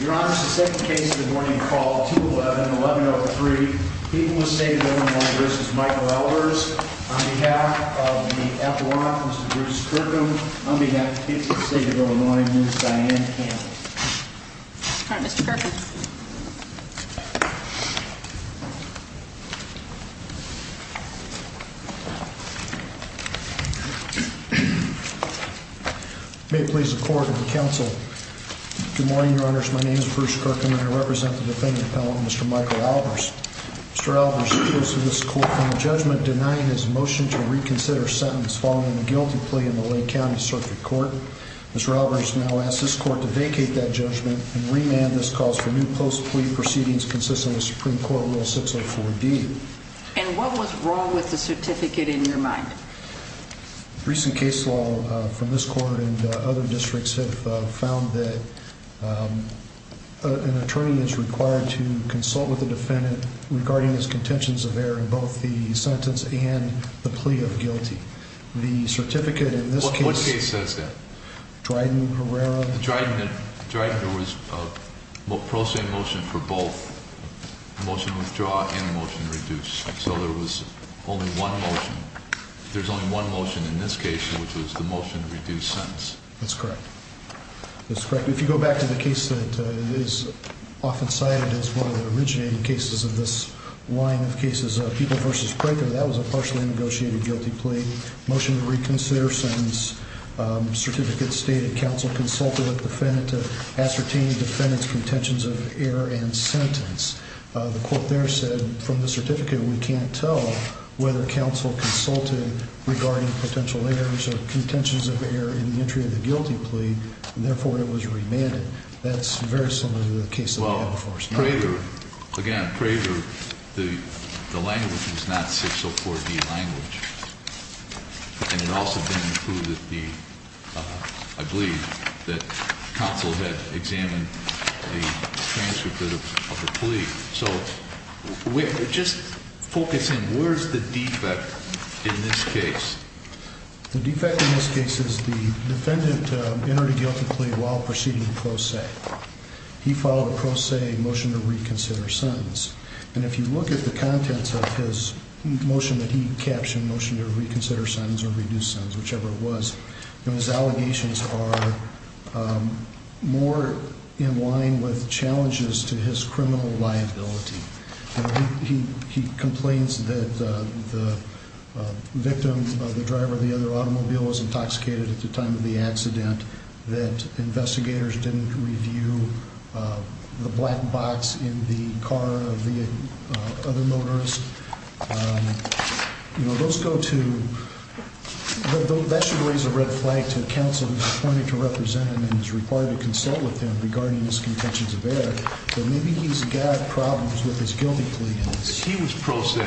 Your Honor, the second case of the morning called 211-1103, Peoples State of Illinois v. Michael Albers On behalf of the FLRA, Mr. Bruce Kirkham, on behalf of Peoples State of Illinois, Ms. Diane Campbell All right, Mr. Kirkham May it please the court and the council, good morning, your honors, my name is Bruce Kirkham and I represent the defendant, Mr. Michael Albers Mr. Albers appeals to this court on a judgment denying his motion to reconsider a sentence following a guilty plea in the Lake County Circuit Court Ms. Albers now asks this court to vacate that judgment and remand this cause for new post plea proceedings consistent with Supreme Court Rule 604-D And what was wrong with the certificate in your mind? Recent case law from this court and other districts have found that an attorney is required to consult with the defendant regarding his contentions of error in both the sentence and the plea of guilty The certificate in this case... What case says that? Dryden-Herrera Dryden, there was a pro se motion for both, motion withdraw and motion reduce, so there was only one motion There's only one motion in this case which was the motion to reduce sentence That's correct, that's correct Motion to reconsider sentence, certificate stated counsel consulted with the defendant to ascertain the defendant's contentions of error and sentence The court there said from the certificate we can't tell whether counsel consulted regarding potential errors or contentions of error in the entry of the guilty plea And therefore it was remanded That's very similar to the case that we have before us Again, Prager, the language was not 604-D language And it also didn't include, I believe, that counsel had examined the transcript of the plea So just focus in, where's the defect in this case? The defect in this case is the defendant entered a guilty plea while proceeding pro se He filed a pro se motion to reconsider sentence And if you look at the contents of his motion that he captioned, motion to reconsider sentence or reduce sentence, whichever it was Those allegations are more in line with challenges to his criminal liability He complains that the victim, the driver of the other automobile was intoxicated at the time of the accident That investigators didn't review the black box in the car of the other motorist You know, those go to, that should raise a red flag to counsel who's appointed to represent him and is required to consult with him regarding his contentions of error So maybe he's got problems with his guilty plea If he was pro se,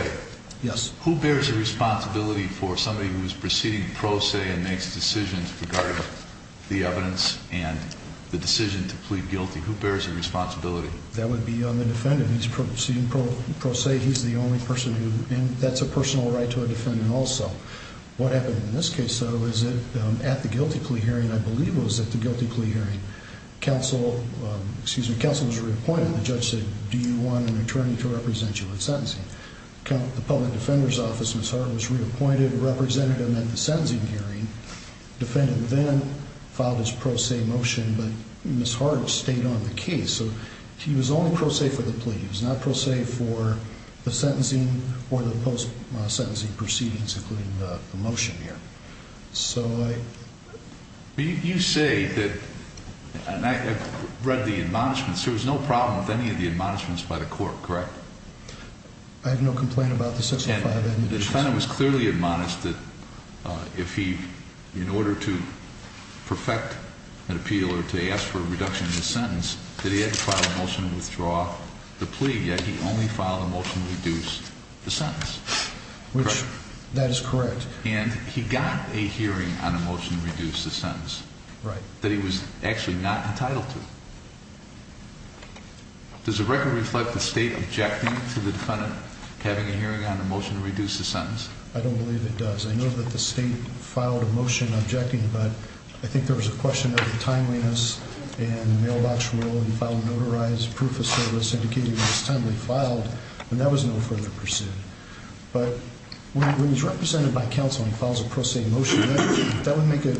who bears the responsibility for somebody who's proceeding pro se and makes decisions regarding the evidence and the decision to plead guilty? Who bears the responsibility? That would be on the defendant, he's proceeding pro se, he's the only person who, and that's a personal right to a defendant also What happened in this case, though, is that at the guilty plea hearing, I believe it was at the guilty plea hearing Counsel, excuse me, counsel was reappointed, the judge said, do you want an attorney to represent you in sentencing? The public defender's office, Ms. Hart was reappointed representative at the sentencing hearing Defendant then filed his pro se motion, but Ms. Hart stayed on the case So he was only pro se for the plea, he was not pro se for the sentencing or the post sentencing proceedings, including the motion here You say that, and I have read the admonishments, there was no problem with any of the admonishments by the court, correct? I have no complaint about the 605 admonitions And the defendant was clearly admonished that if he, in order to perfect an appeal or to ask for a reduction in the sentence, that he had to file a motion to withdraw the plea, yet he only filed a motion to reduce the sentence Which, that is correct And he got a hearing on a motion to reduce the sentence, that he was actually not entitled to Does the record reflect the state objecting to the defendant having a hearing on a motion to reduce the sentence? I don't believe it does, I know that the state filed a motion objecting, but I think there was a question of the timeliness And the mailbox rule, he filed a notarized proof of service indicating it was timely filed, and there was no further pursuit But when he's represented by counsel and he files a pro se motion, that would make it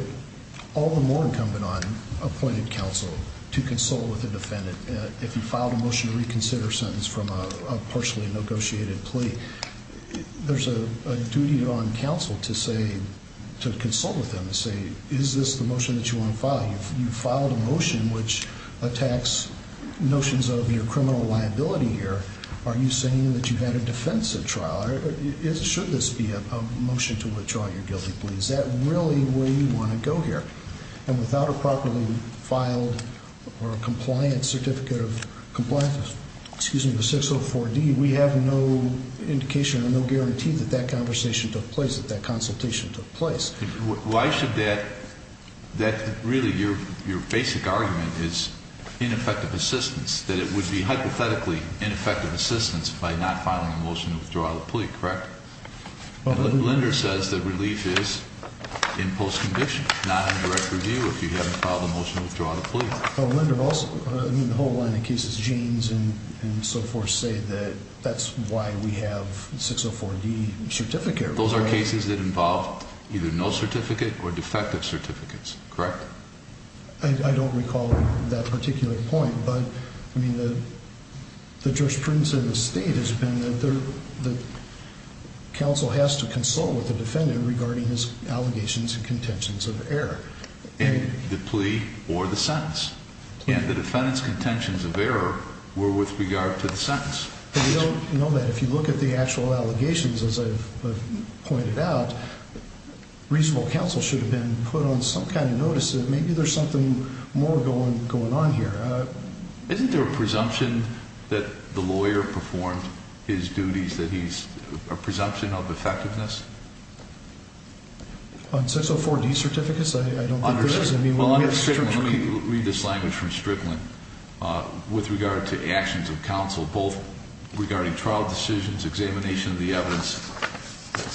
all the more incumbent on appointed counsel to consult with the defendant If he filed a motion to reconsider a sentence from a partially negotiated plea There's a duty on counsel to say, to consult with them and say, is this the motion that you want to file? You filed a motion which attacks notions of your criminal liability here, are you saying that you've had a defensive trial? Should this be a motion to withdraw your guilty plea? Is that really where you want to go here? And without a properly filed or compliant certificate of compliance, excuse me, with 604D, we have no indication or no guarantee that that conversation took place, that that consultation took place Why should that, that really your basic argument is ineffective assistance, that it would be hypothetically ineffective assistance by not filing a motion to withdraw the plea, correct? Linder says that relief is in post-conviction, not in direct review if you haven't filed a motion to withdraw the plea Linder also, I mean the whole line of cases, Jeans and so forth say that that's why we have 604D certificate Those are cases that involve either no certificate or defective certificates, correct? I don't recall that particular point, but I mean the jurisprudence of the state has been that counsel has to consult with the defendant regarding his allegations and contentions of error The plea or the sentence, and the defendant's contentions of error were with regard to the sentence But we don't know that, if you look at the actual allegations as I've pointed out, reasonable counsel should have been put on some kind of notice that maybe there's something more going on here Isn't there a presumption that the lawyer performed his duties that he's, a presumption of effectiveness? On 604D certificates, I don't think there is Let me read this language from Strickland, with regard to actions of counsel, both regarding trial decisions, examination of the evidence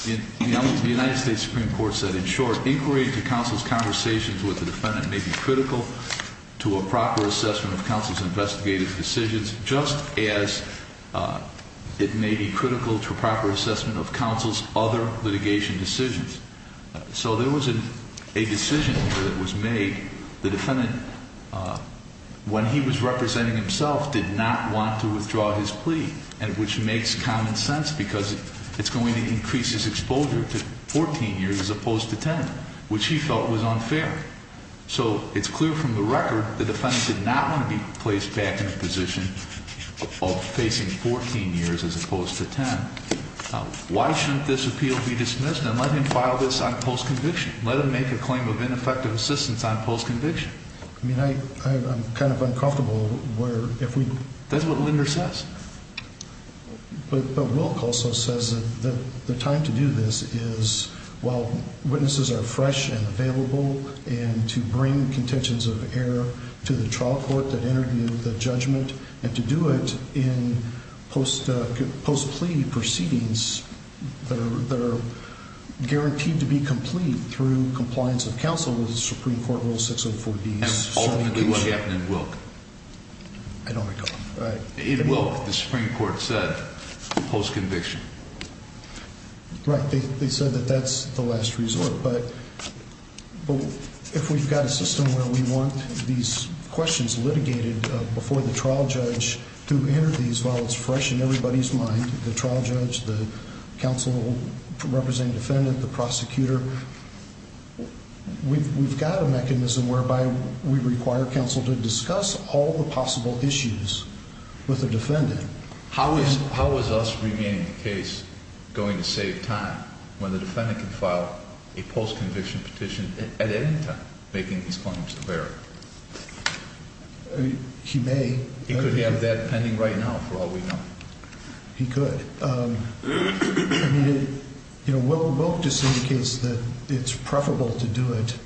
The United States Supreme Court said, in short, inquiry into counsel's conversations with the defendant may be critical to a proper assessment of counsel's investigative decisions Just as it may be critical to a proper assessment of counsel's other litigation decisions So there was a decision that was made, the defendant, when he was representing himself, did not want to withdraw his plea Which makes common sense because it's going to increase his exposure to 14 years as opposed to 10, which he felt was unfair So it's clear from the record, the defendant did not want to be placed back in a position of facing 14 years as opposed to 10 Why shouldn't this appeal be dismissed and let him file this on post-conviction? Let him make a claim of ineffective assistance on post-conviction I mean, I'm kind of uncomfortable where, if we That's what Linder says But Wilk also says that the time to do this is, while witnesses are fresh and available And to bring contentions of error to the trial court that interviewed the judgment And to do it in post-plea proceedings that are guaranteed to be complete through compliance of counsel with the Supreme Court Rule 604B's And ultimately what happened in Wilk? I don't recall In Wilk, the Supreme Court said, post-conviction Right, they said that that's the last resort But if we've got a system where we want these questions litigated before the trial judge to enter these While it's fresh in everybody's mind, the trial judge, the counsel representing the defendant, the prosecutor We've got a mechanism whereby we require counsel to discuss all the possible issues with the defendant How is us remanding the case going to save time when the defendant can file a post-conviction petition at any time making these claims of error? He may He could have that pending right now for all we know He could Wilk just indicates that it's preferable to do it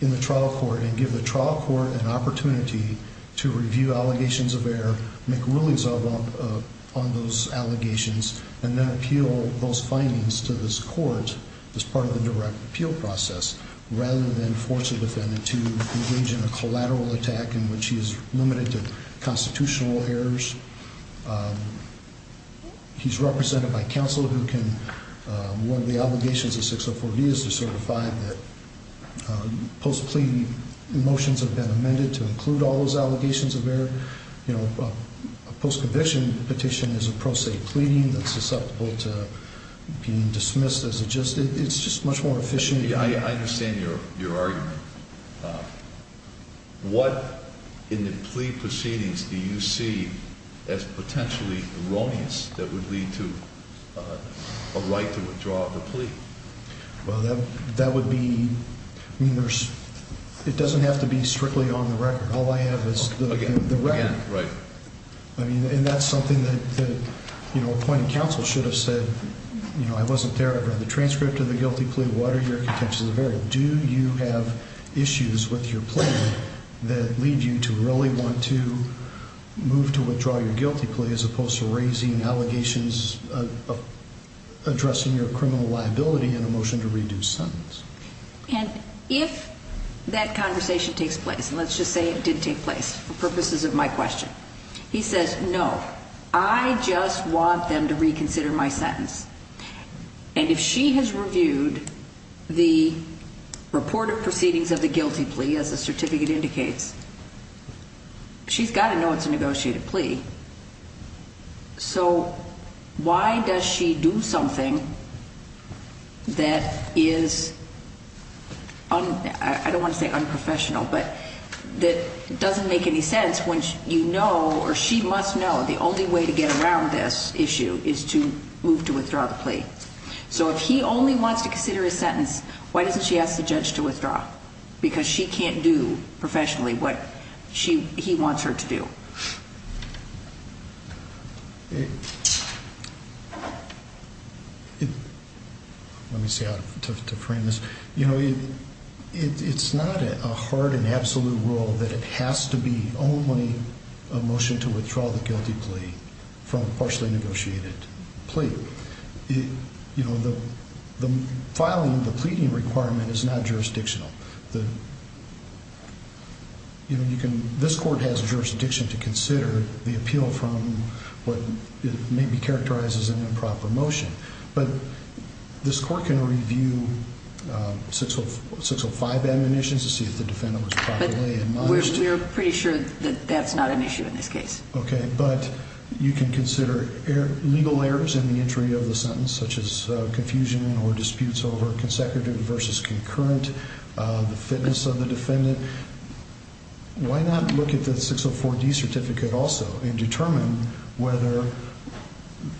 in the trial court And give the trial court an opportunity to review allegations of error, make rulings on those allegations And then appeal those findings to this court as part of the direct appeal process Rather than force a defendant to engage in a collateral attack in which he is limited to constitutional errors He's represented by counsel who can, one of the obligations of 604B is to certify that post-plea motions have been amended to include all those allegations of error You know, a post-conviction petition is a pro se pleading that's susceptible to being dismissed It's just much more efficient I understand your argument What in the plea proceedings do you see as potentially erroneous that would lead to a right to withdraw the plea? Well that would be, it doesn't have to be strictly on the record All I have is the record And that's something that appointed counsel should have said You know, I wasn't there, I read the transcript of the guilty plea, what are your intentions of error? Do you have issues with your plea that lead you to really want to move to withdraw your guilty plea As opposed to raising allegations of addressing your criminal liability in a motion to reduce sentence? And if that conversation takes place, and let's just say it did take place for purposes of my question He says, no, I just want them to reconsider my sentence And if she has reviewed the reported proceedings of the guilty plea as the certificate indicates She's got to know it's a negotiated plea So why does she do something that is, I don't want to say unprofessional But that doesn't make any sense when you know, or she must know, the only way to get around this issue is to move to withdraw the plea So if he only wants to consider his sentence, why doesn't she ask the judge to withdraw? Because she can't do professionally what he wants her to do Let me see how to frame this You know, it's not a hard and absolute rule that it has to be only a motion to withdraw the guilty plea from a partially negotiated plea You know, the filing of the pleading requirement is not jurisdictional This court has jurisdiction to consider the appeal from what may be characterized as an improper motion But this court can review 605 admonitions to see if the defendant was properly admonished But we're pretty sure that that's not an issue in this case Okay, but you can consider legal errors in the entry of the sentence Such as confusion or disputes over consecutive versus concurrent The fitness of the defendant Why not look at the 604D certificate also and determine whether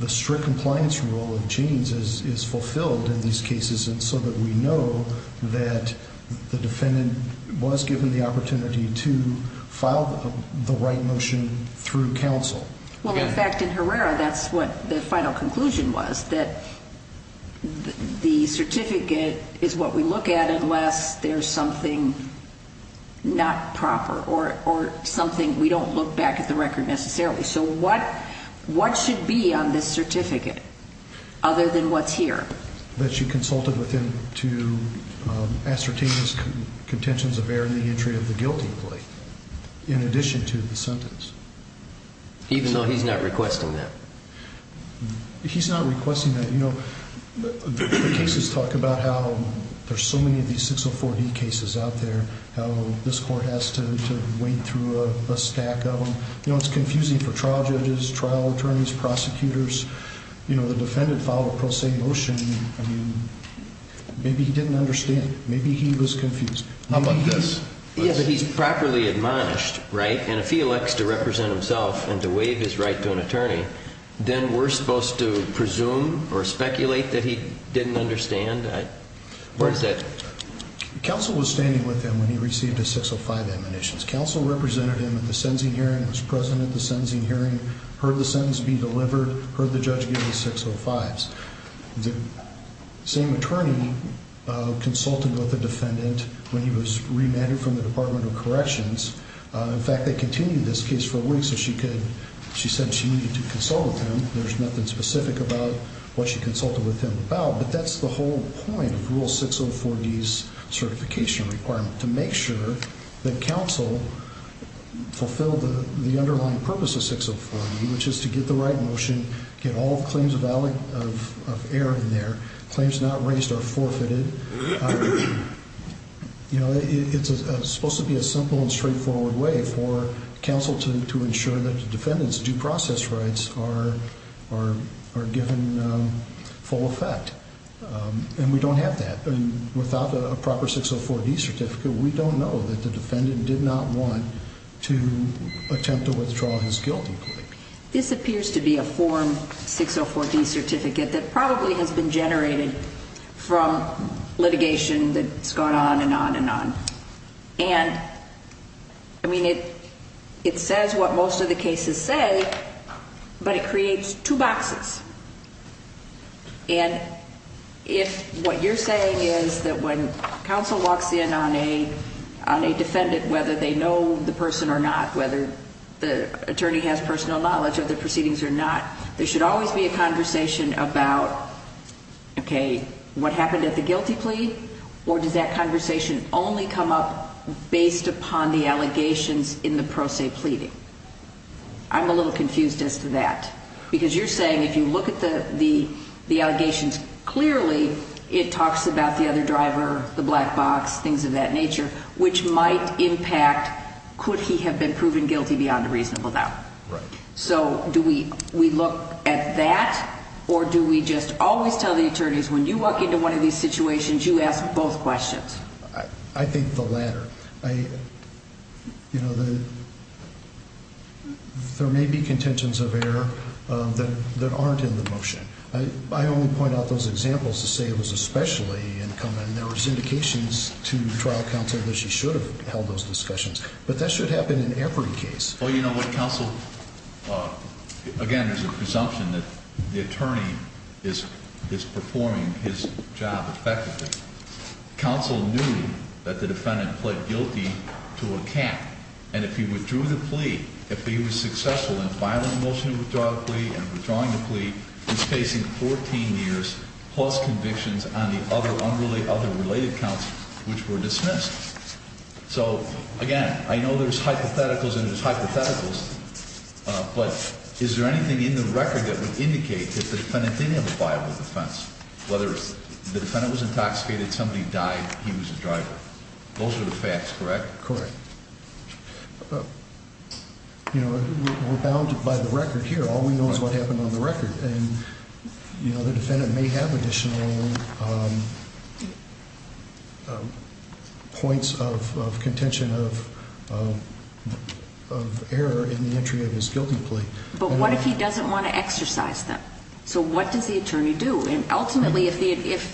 the strict compliance rule of chains is fulfilled in these cases So that we know that the defendant was given the opportunity to file the right motion through counsel Well, in fact, in Herrera, that's what the final conclusion was That the certificate is what we look at unless there's something not proper Or something we don't look back at the record necessarily So what should be on this certificate other than what's here? That you consulted with him to ascertain his contentions of error in the entry of the guilty plea In addition to the sentence Even though he's not requesting that? He's not requesting that You know, the cases talk about how there's so many of these 604D cases out there How this court has to wade through a stack of them The defendant filed a pro se motion Maybe he didn't understand Maybe he was confused How about this? Yeah, but he's properly admonished, right? And if he elects to represent himself and to waive his right to an attorney Then we're supposed to presume or speculate that he didn't understand? What is that? Counsel was standing with him when he received his 605 admonitions Counsel represented him at the sentencing hearing Was present at the sentencing hearing Heard the sentence be delivered Heard the judge give the 605s The same attorney consulted with the defendant when he was remanded from the Department of Corrections In fact, they continued this case for a week So she said she needed to consult with him There's nothing specific about what she consulted with him about But that's the whole point of Rule 604D's certification requirement To make sure that counsel fulfilled the underlying purpose of 604D Which is to get the right motion Get all the claims of error in there Claims not raised are forfeited You know, it's supposed to be a simple and straightforward way For counsel to ensure that the defendant's due process rights are given full effect And we don't have that Without a proper 604D certificate We don't know that the defendant did not want to attempt to withdraw his guilty plea This appears to be a form 604D certificate That probably has been generated from litigation that's gone on and on and on And, I mean, it says what most of the cases say But it creates two boxes And if what you're saying is that when counsel walks in on a defendant Whether they know the person or not Whether the attorney has personal knowledge of the proceedings or not There should always be a conversation about, okay, what happened at the guilty plea Or does that conversation only come up based upon the allegations in the pro se pleading I'm a little confused as to that Because you're saying if you look at the allegations Clearly it talks about the other driver, the black box, things of that nature Which might impact, could he have been proven guilty beyond a reasonable doubt Right So do we look at that or do we just always tell the attorneys When you walk into one of these situations, you ask both questions I think the latter You know, there may be contentions of error that aren't in the motion I only point out those examples to say it was especially incumbent There was indications to trial counsel that she should have held those discussions But that should happen in every case Well, you know what, counsel, again, there's a presumption that the attorney is performing his job effectively Counsel knew that the defendant pled guilty to a cap And if he withdrew the plea, if he was successful in filing the motion to withdraw the plea And withdrawing the plea, he's facing 14 years plus convictions on the other unrelated counts which were dismissed So, again, I know there's hypotheticals and there's hypotheticals But is there anything in the record that would indicate that the defendant didn't have a viable defense Whether the defendant was intoxicated, somebody died, he was the driver Those are the facts, correct? Correct You know, we're bound by the record here All we know is what happened on the record And, you know, the defendant may have additional points of contention of error in the entry of his guilty plea But what if he doesn't want to exercise them? So what does the attorney do? And ultimately, if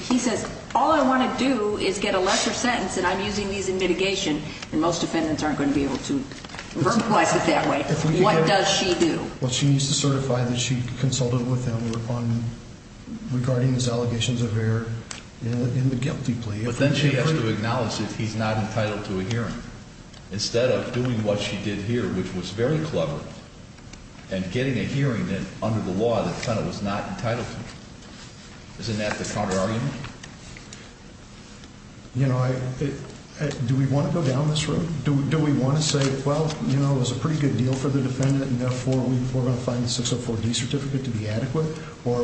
he says, all I want to do is get a lesser sentence and I'm using these in mitigation Then most defendants aren't going to be able to verbalize it that way What does she do? Well, she needs to certify that she consulted with him regarding his allegations of error in the guilty plea But then she has to acknowledge that he's not entitled to a hearing Instead of doing what she did here, which was very clever And getting a hearing that, under the law, the defendant was not entitled to Isn't that the counter argument? You know, do we want to go down this road? Do we want to say, well, you know, it was a pretty good deal for the defendant And therefore we're going to find the 604D certificate to be adequate Or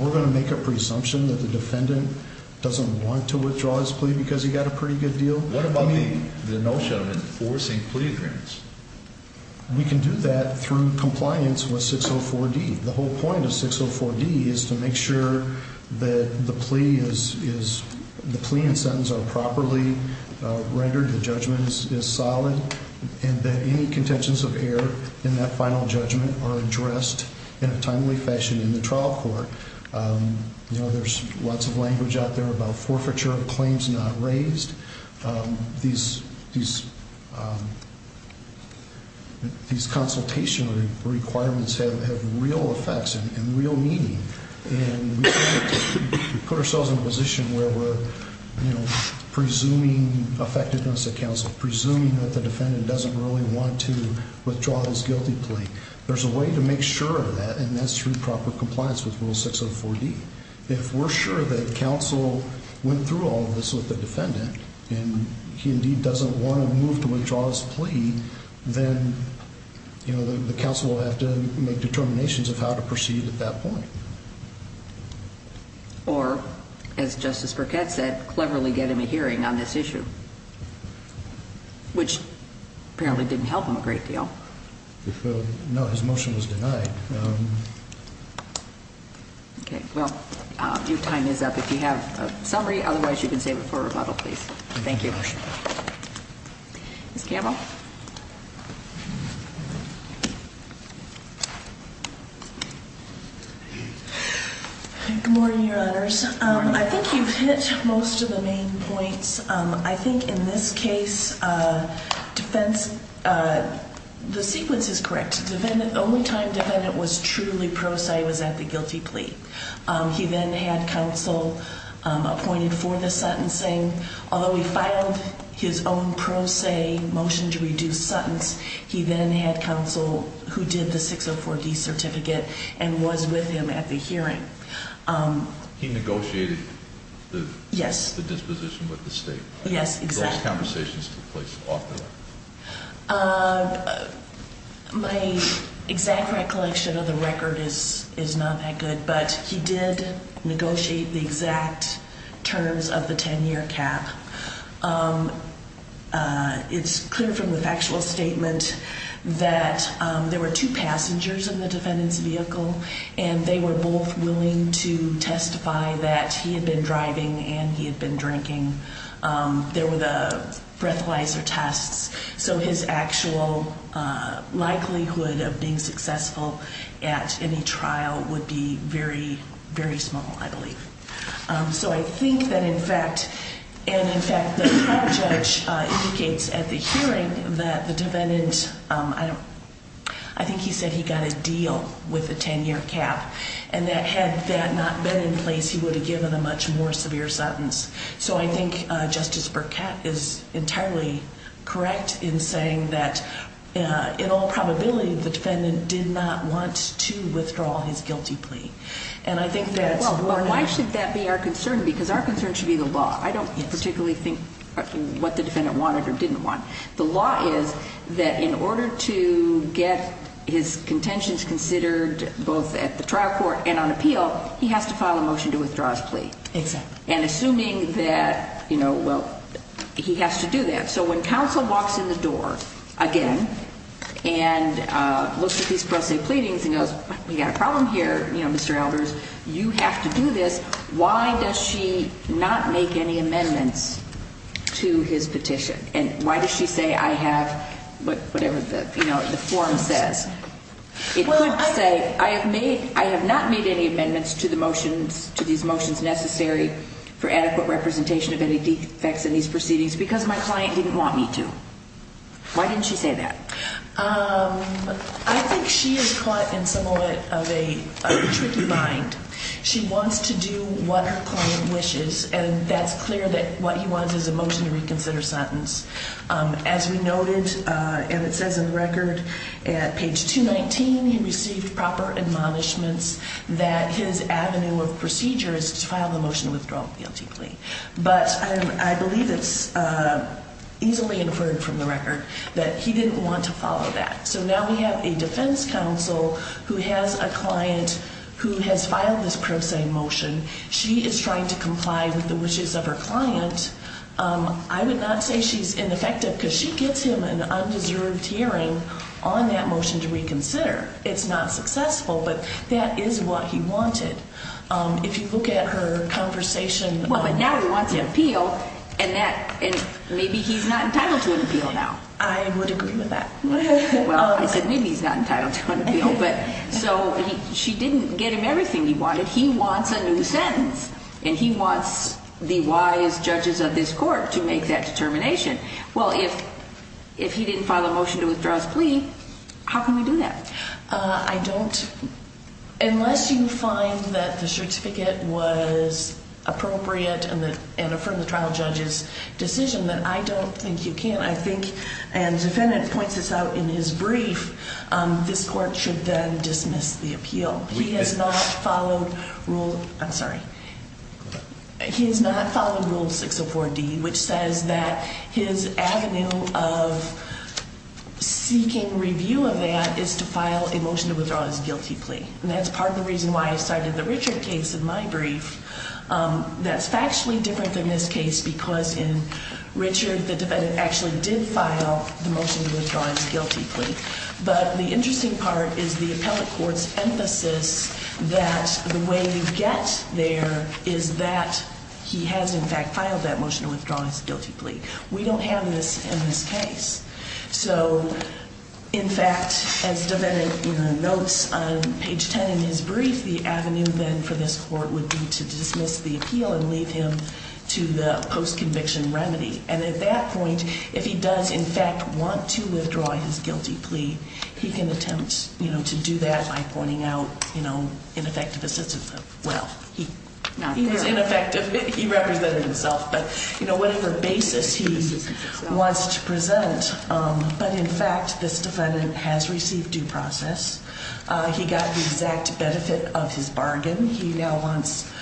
we're going to make a presumption that the defendant doesn't want to withdraw his plea because he got a pretty good deal? What about the notion of enforcing plea agreements? We can do that through compliance with 604D The whole point of 604D is to make sure that the plea and sentence are properly rendered The judgment is solid And that any contentions of error in that final judgment are addressed in a timely fashion in the trial court You know, there's lots of language out there about forfeiture of claims not raised These consultation requirements have real effects and real meaning And we put ourselves in a position where we're, you know, presuming effectiveness at counsel Presuming that the defendant doesn't really want to withdraw his guilty plea There's a way to make sure of that, and that's through proper compliance with rule 604D If we're sure that counsel went through all of this with the defendant And he indeed doesn't want to move to withdraw his plea Then, you know, the counsel will have to make determinations of how to proceed at that point Or, as Justice Burkett said, cleverly get him a hearing on this issue Which apparently didn't help him a great deal No, his motion was denied Okay, well, your time is up If you have a summary, otherwise you can save it for rebuttal, please Thank you Ms. Campbell Good morning, Your Honors I think you've hit most of the main points I think in this case defense The sequence is correct The only time the defendant was truly pro se was at the guilty plea He then had counsel appointed for the sentencing Although he filed his own pro se motion to reduce sentence He then had counsel who did the 604D certificate and was with him at the hearing He negotiated the disposition with the state Yes, exactly Those conversations took place off the court My exact recollection of the record is not that good But he did negotiate the exact terms of the 10-year cap It's clear from the factual statement that there were two passengers in the defendant's vehicle And they were both willing to testify that he had been driving and he had been drinking There were the breathalyzer tests So his actual likelihood of being successful at any trial would be very, very small, I believe So I think that in fact And in fact the trial judge indicates at the hearing that the defendant I think he said he got a deal with the 10-year cap And that had that not been in place, he would have given a much more severe sentence So I think Justice Burkett is entirely correct in saying that In all probability the defendant did not want to withdraw his guilty plea And I think that's Why should that be our concern? Because our concern should be the law I don't particularly think what the defendant wanted or didn't want The law is that in order to get his contentions considered both at the trial court and on appeal He has to file a motion to withdraw his plea Exactly And assuming that, you know, well, he has to do that So when counsel walks in the door, again And looks at these pro se pleadings and goes We've got a problem here, you know, Mr. Albers You have to do this Why does she not make any amendments to his petition? And why does she say I have whatever the form says? It could say I have not made any amendments to these motions necessary For adequate representation of any defects in these proceedings Because my client didn't want me to Why didn't she say that? I think she is caught in somewhat of a tricky bind She wants to do what her client wishes And that's clear that what he wants is a motion to reconsider sentence As we noted, and it says in the record At page 219 he received proper admonishments That his avenue of procedure is to file a motion to withdraw the plea But I believe it's easily inferred from the record That he didn't want to follow that So now we have a defense counsel who has a client Who has filed this pro se motion She is trying to comply with the wishes of her client I would not say she is ineffective Because she gets him an undeserved hearing on that motion to reconsider It's not successful, but that is what he wanted If you look at her conversation Well, but now he wants an appeal And maybe he's not entitled to an appeal now I would agree with that Well, I said maybe he's not entitled to an appeal So she didn't get him everything he wanted He wants a new sentence And he wants the wise judges of this court to make that determination Well, if he didn't file a motion to withdraw his plea How can we do that? I don't... Unless you find that the certificate was appropriate And affirmed the trial judge's decision Then I don't think you can I think, and the defendant points this out in his brief This court should then dismiss the appeal He has not followed rule... I'm sorry He has not followed rule 604D Which says that his avenue of seeking review of that Is to file a motion to withdraw his guilty plea And that's part of the reason why I cited the Richard case in my brief That's factually different than this case Because in Richard, the defendant actually did file the motion to withdraw his guilty plea But the interesting part is the appellate court's emphasis That the way you get there Is that he has in fact filed that motion to withdraw his guilty plea We don't have this in this case So, in fact, as the defendant notes on page 10 in his brief The avenue then for this court would be to dismiss the appeal And leave him to the post-conviction remedy And at that point, if he does in fact want to withdraw his guilty plea He can attempt to do that by pointing out ineffective assistance Well, he was ineffective, he represented himself But whatever basis he wants to present But in fact, this defendant has received due process He got the exact benefit of his bargain He now wants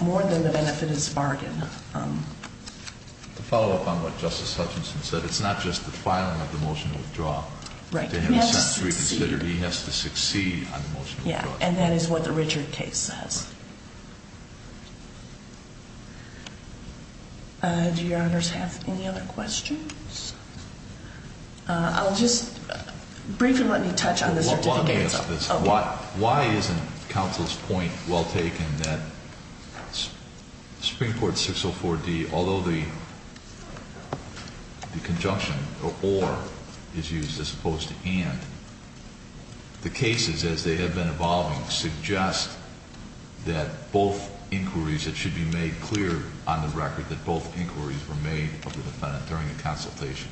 more than the benefit of his bargain To follow up on what Justice Hutchinson said It's not just the filing of the motion to withdraw He has to succeed on the motion to withdraw Yeah, and that is what the Richard case says Do your honors have any other questions? I'll just briefly let me touch on the certificates Why isn't counsel's point well taken That Supreme Court 604D, although the conjunction or is used as opposed to and The cases as they have been evolving suggest That both inquiries that should be made clear on the record That both inquiries were made of the defendant during the consultation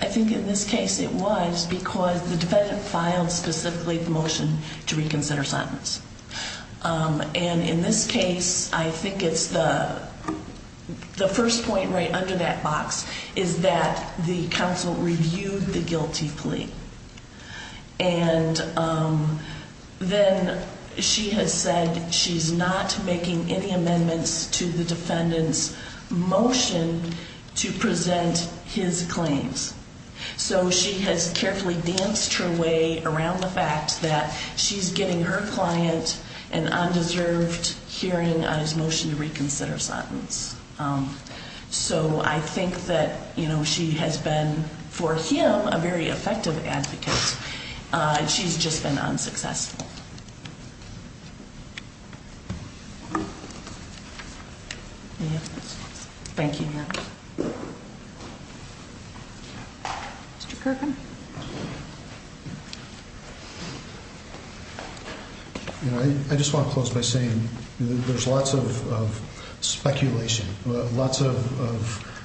I think in this case it was because the defendant filed specifically the motion to reconsider sentence And in this case, I think it's the first point right under that box Is that the counsel reviewed the guilty plea And then she has said she's not making any amendments to the defendant's motion To present his claims So she has carefully danced her way around the fact that She's giving her client an undeserved hearing on his motion to reconsider sentence So I think that she has been, for him, a very effective advocate She's just been unsuccessful Thank you, Your Honor Mr. Kirkham I just want to close by saying there's lots of speculation Lots of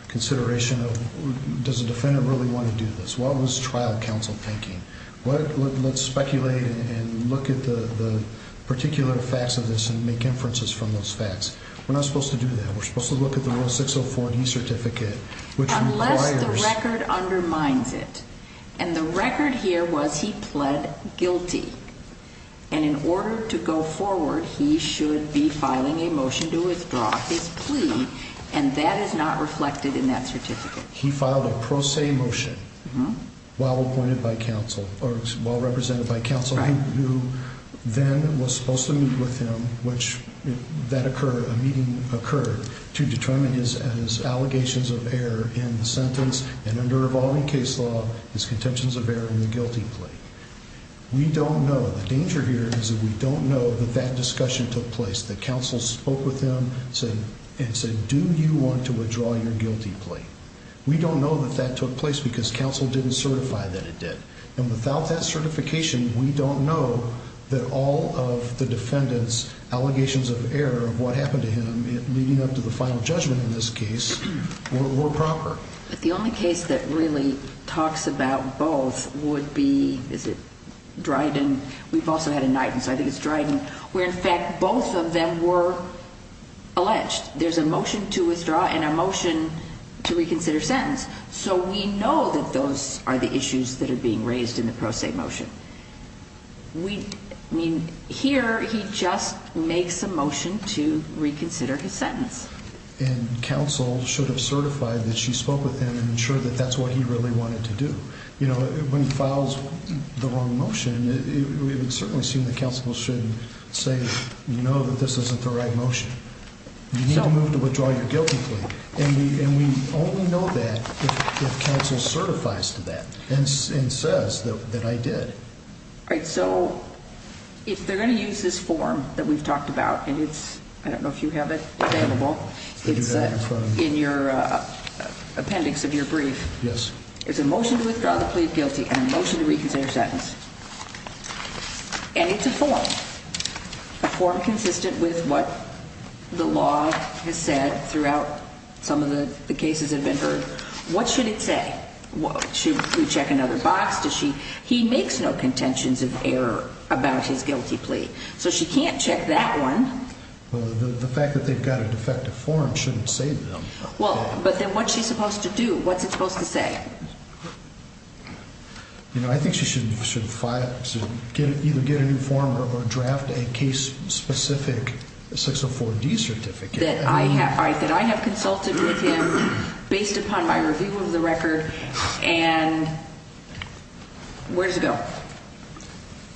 consideration of does the defendant really want to do this? What was trial counsel thinking? Let's speculate and look at the particular facts of this and make inferences from those facts We're not supposed to do that We're supposed to look at the rule 604D certificate Unless the record undermines it And the record here was he pled guilty And in order to go forward, he should be filing a motion to withdraw his plea And that is not reflected in that certificate He filed a pro se motion while appointed by counsel Or while represented by counsel Who then was supposed to meet with him A meeting occurred to determine his allegations of error in the sentence And under evolving case law, his contentions of error in the guilty plea We don't know The danger here is that we don't know that that discussion took place That counsel spoke with him and said, do you want to withdraw your guilty plea? We don't know that that took place because counsel didn't certify that it did And without that certification, we don't know That all of the defendant's allegations of error of what happened to him Leading up to the final judgment in this case were proper But the only case that really talks about both would be, is it Dryden? We've also had a night, and so I think it's Dryden Where in fact both of them were alleged There's a motion to withdraw and a motion to reconsider sentence So we know that those are the issues that are being raised in the pro se motion Here, he just makes a motion to reconsider his sentence And counsel should have certified that she spoke with him And ensured that that's what he really wanted to do When he files the wrong motion, it would certainly seem that counsel should say You know that this isn't the right motion You need to move to withdraw your guilty plea And we only know that if counsel certifies to that And says that I did All right, so if they're going to use this form that we've talked about And it's, I don't know if you have it available It's in your appendix of your brief It's a motion to withdraw the plea of guilty and a motion to reconsider sentence And it's a form, a form consistent with what the law has said Throughout some of the cases that have been heard What should it say? Should we check another box? He makes no contentions of error about his guilty plea So she can't check that one Well, the fact that they've got a defective form shouldn't save them Well, but then what's she supposed to do? What's it supposed to say? You know, I think she should either get a new form Or draft a case-specific 604D certificate That I have, that I have consulted with him Based upon my review of the record And, where does it go?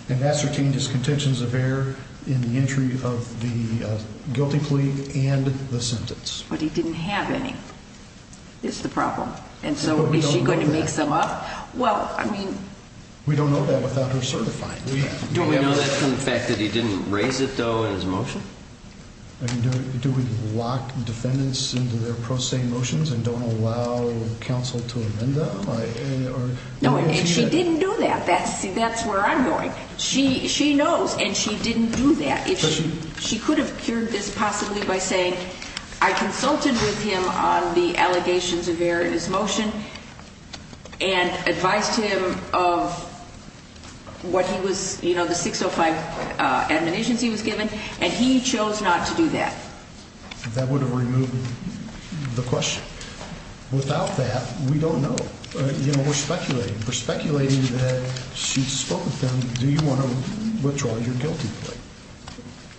And that's retained as contentions of error In the entry of the guilty plea and the sentence But he didn't have any That's the problem And so is she going to mix them up? Well, I mean We don't know that without her certifying Do we know that from the fact that he didn't raise it though in his motion? Do we lock defendants into their pro se motions And don't allow counsel to amend them? No, and she didn't do that See, that's where I'm going She knows, and she didn't do that She could have cured this possibly by saying I consulted with him on the allegations of error in his motion And advised him of what he was You know, the 605 admonitions he was given And he chose not to do that That would have removed the question Without that, we don't know You know, we're speculating We're speculating that she spoke with him Do you want to withdraw your guilty plea?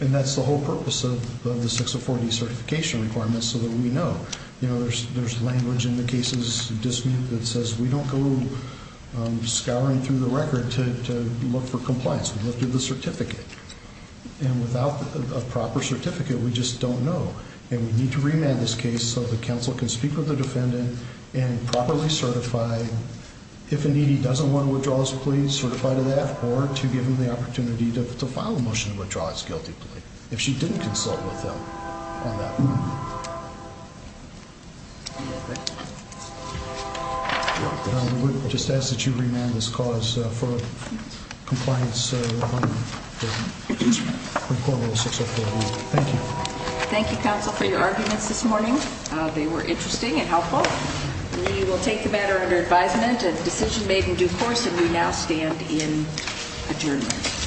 And that's the whole purpose of the 604D certification requirements So that we know You know, there's language in the case's dismute That says we don't go scouring through the record To look for compliance We look through the certificate And without a proper certificate, we just don't know And we need to remand this case So that counsel can speak with the defendant And properly certify If indeed he doesn't want to withdraw his plea Certify to that Or to give him the opportunity to file a motion to withdraw his guilty plea If she didn't consult with him on that Thank you Thank you counsel for your arguments this morning They were interesting and helpful We will take the matter under advisement A decision made in due course And we now stand in adjournment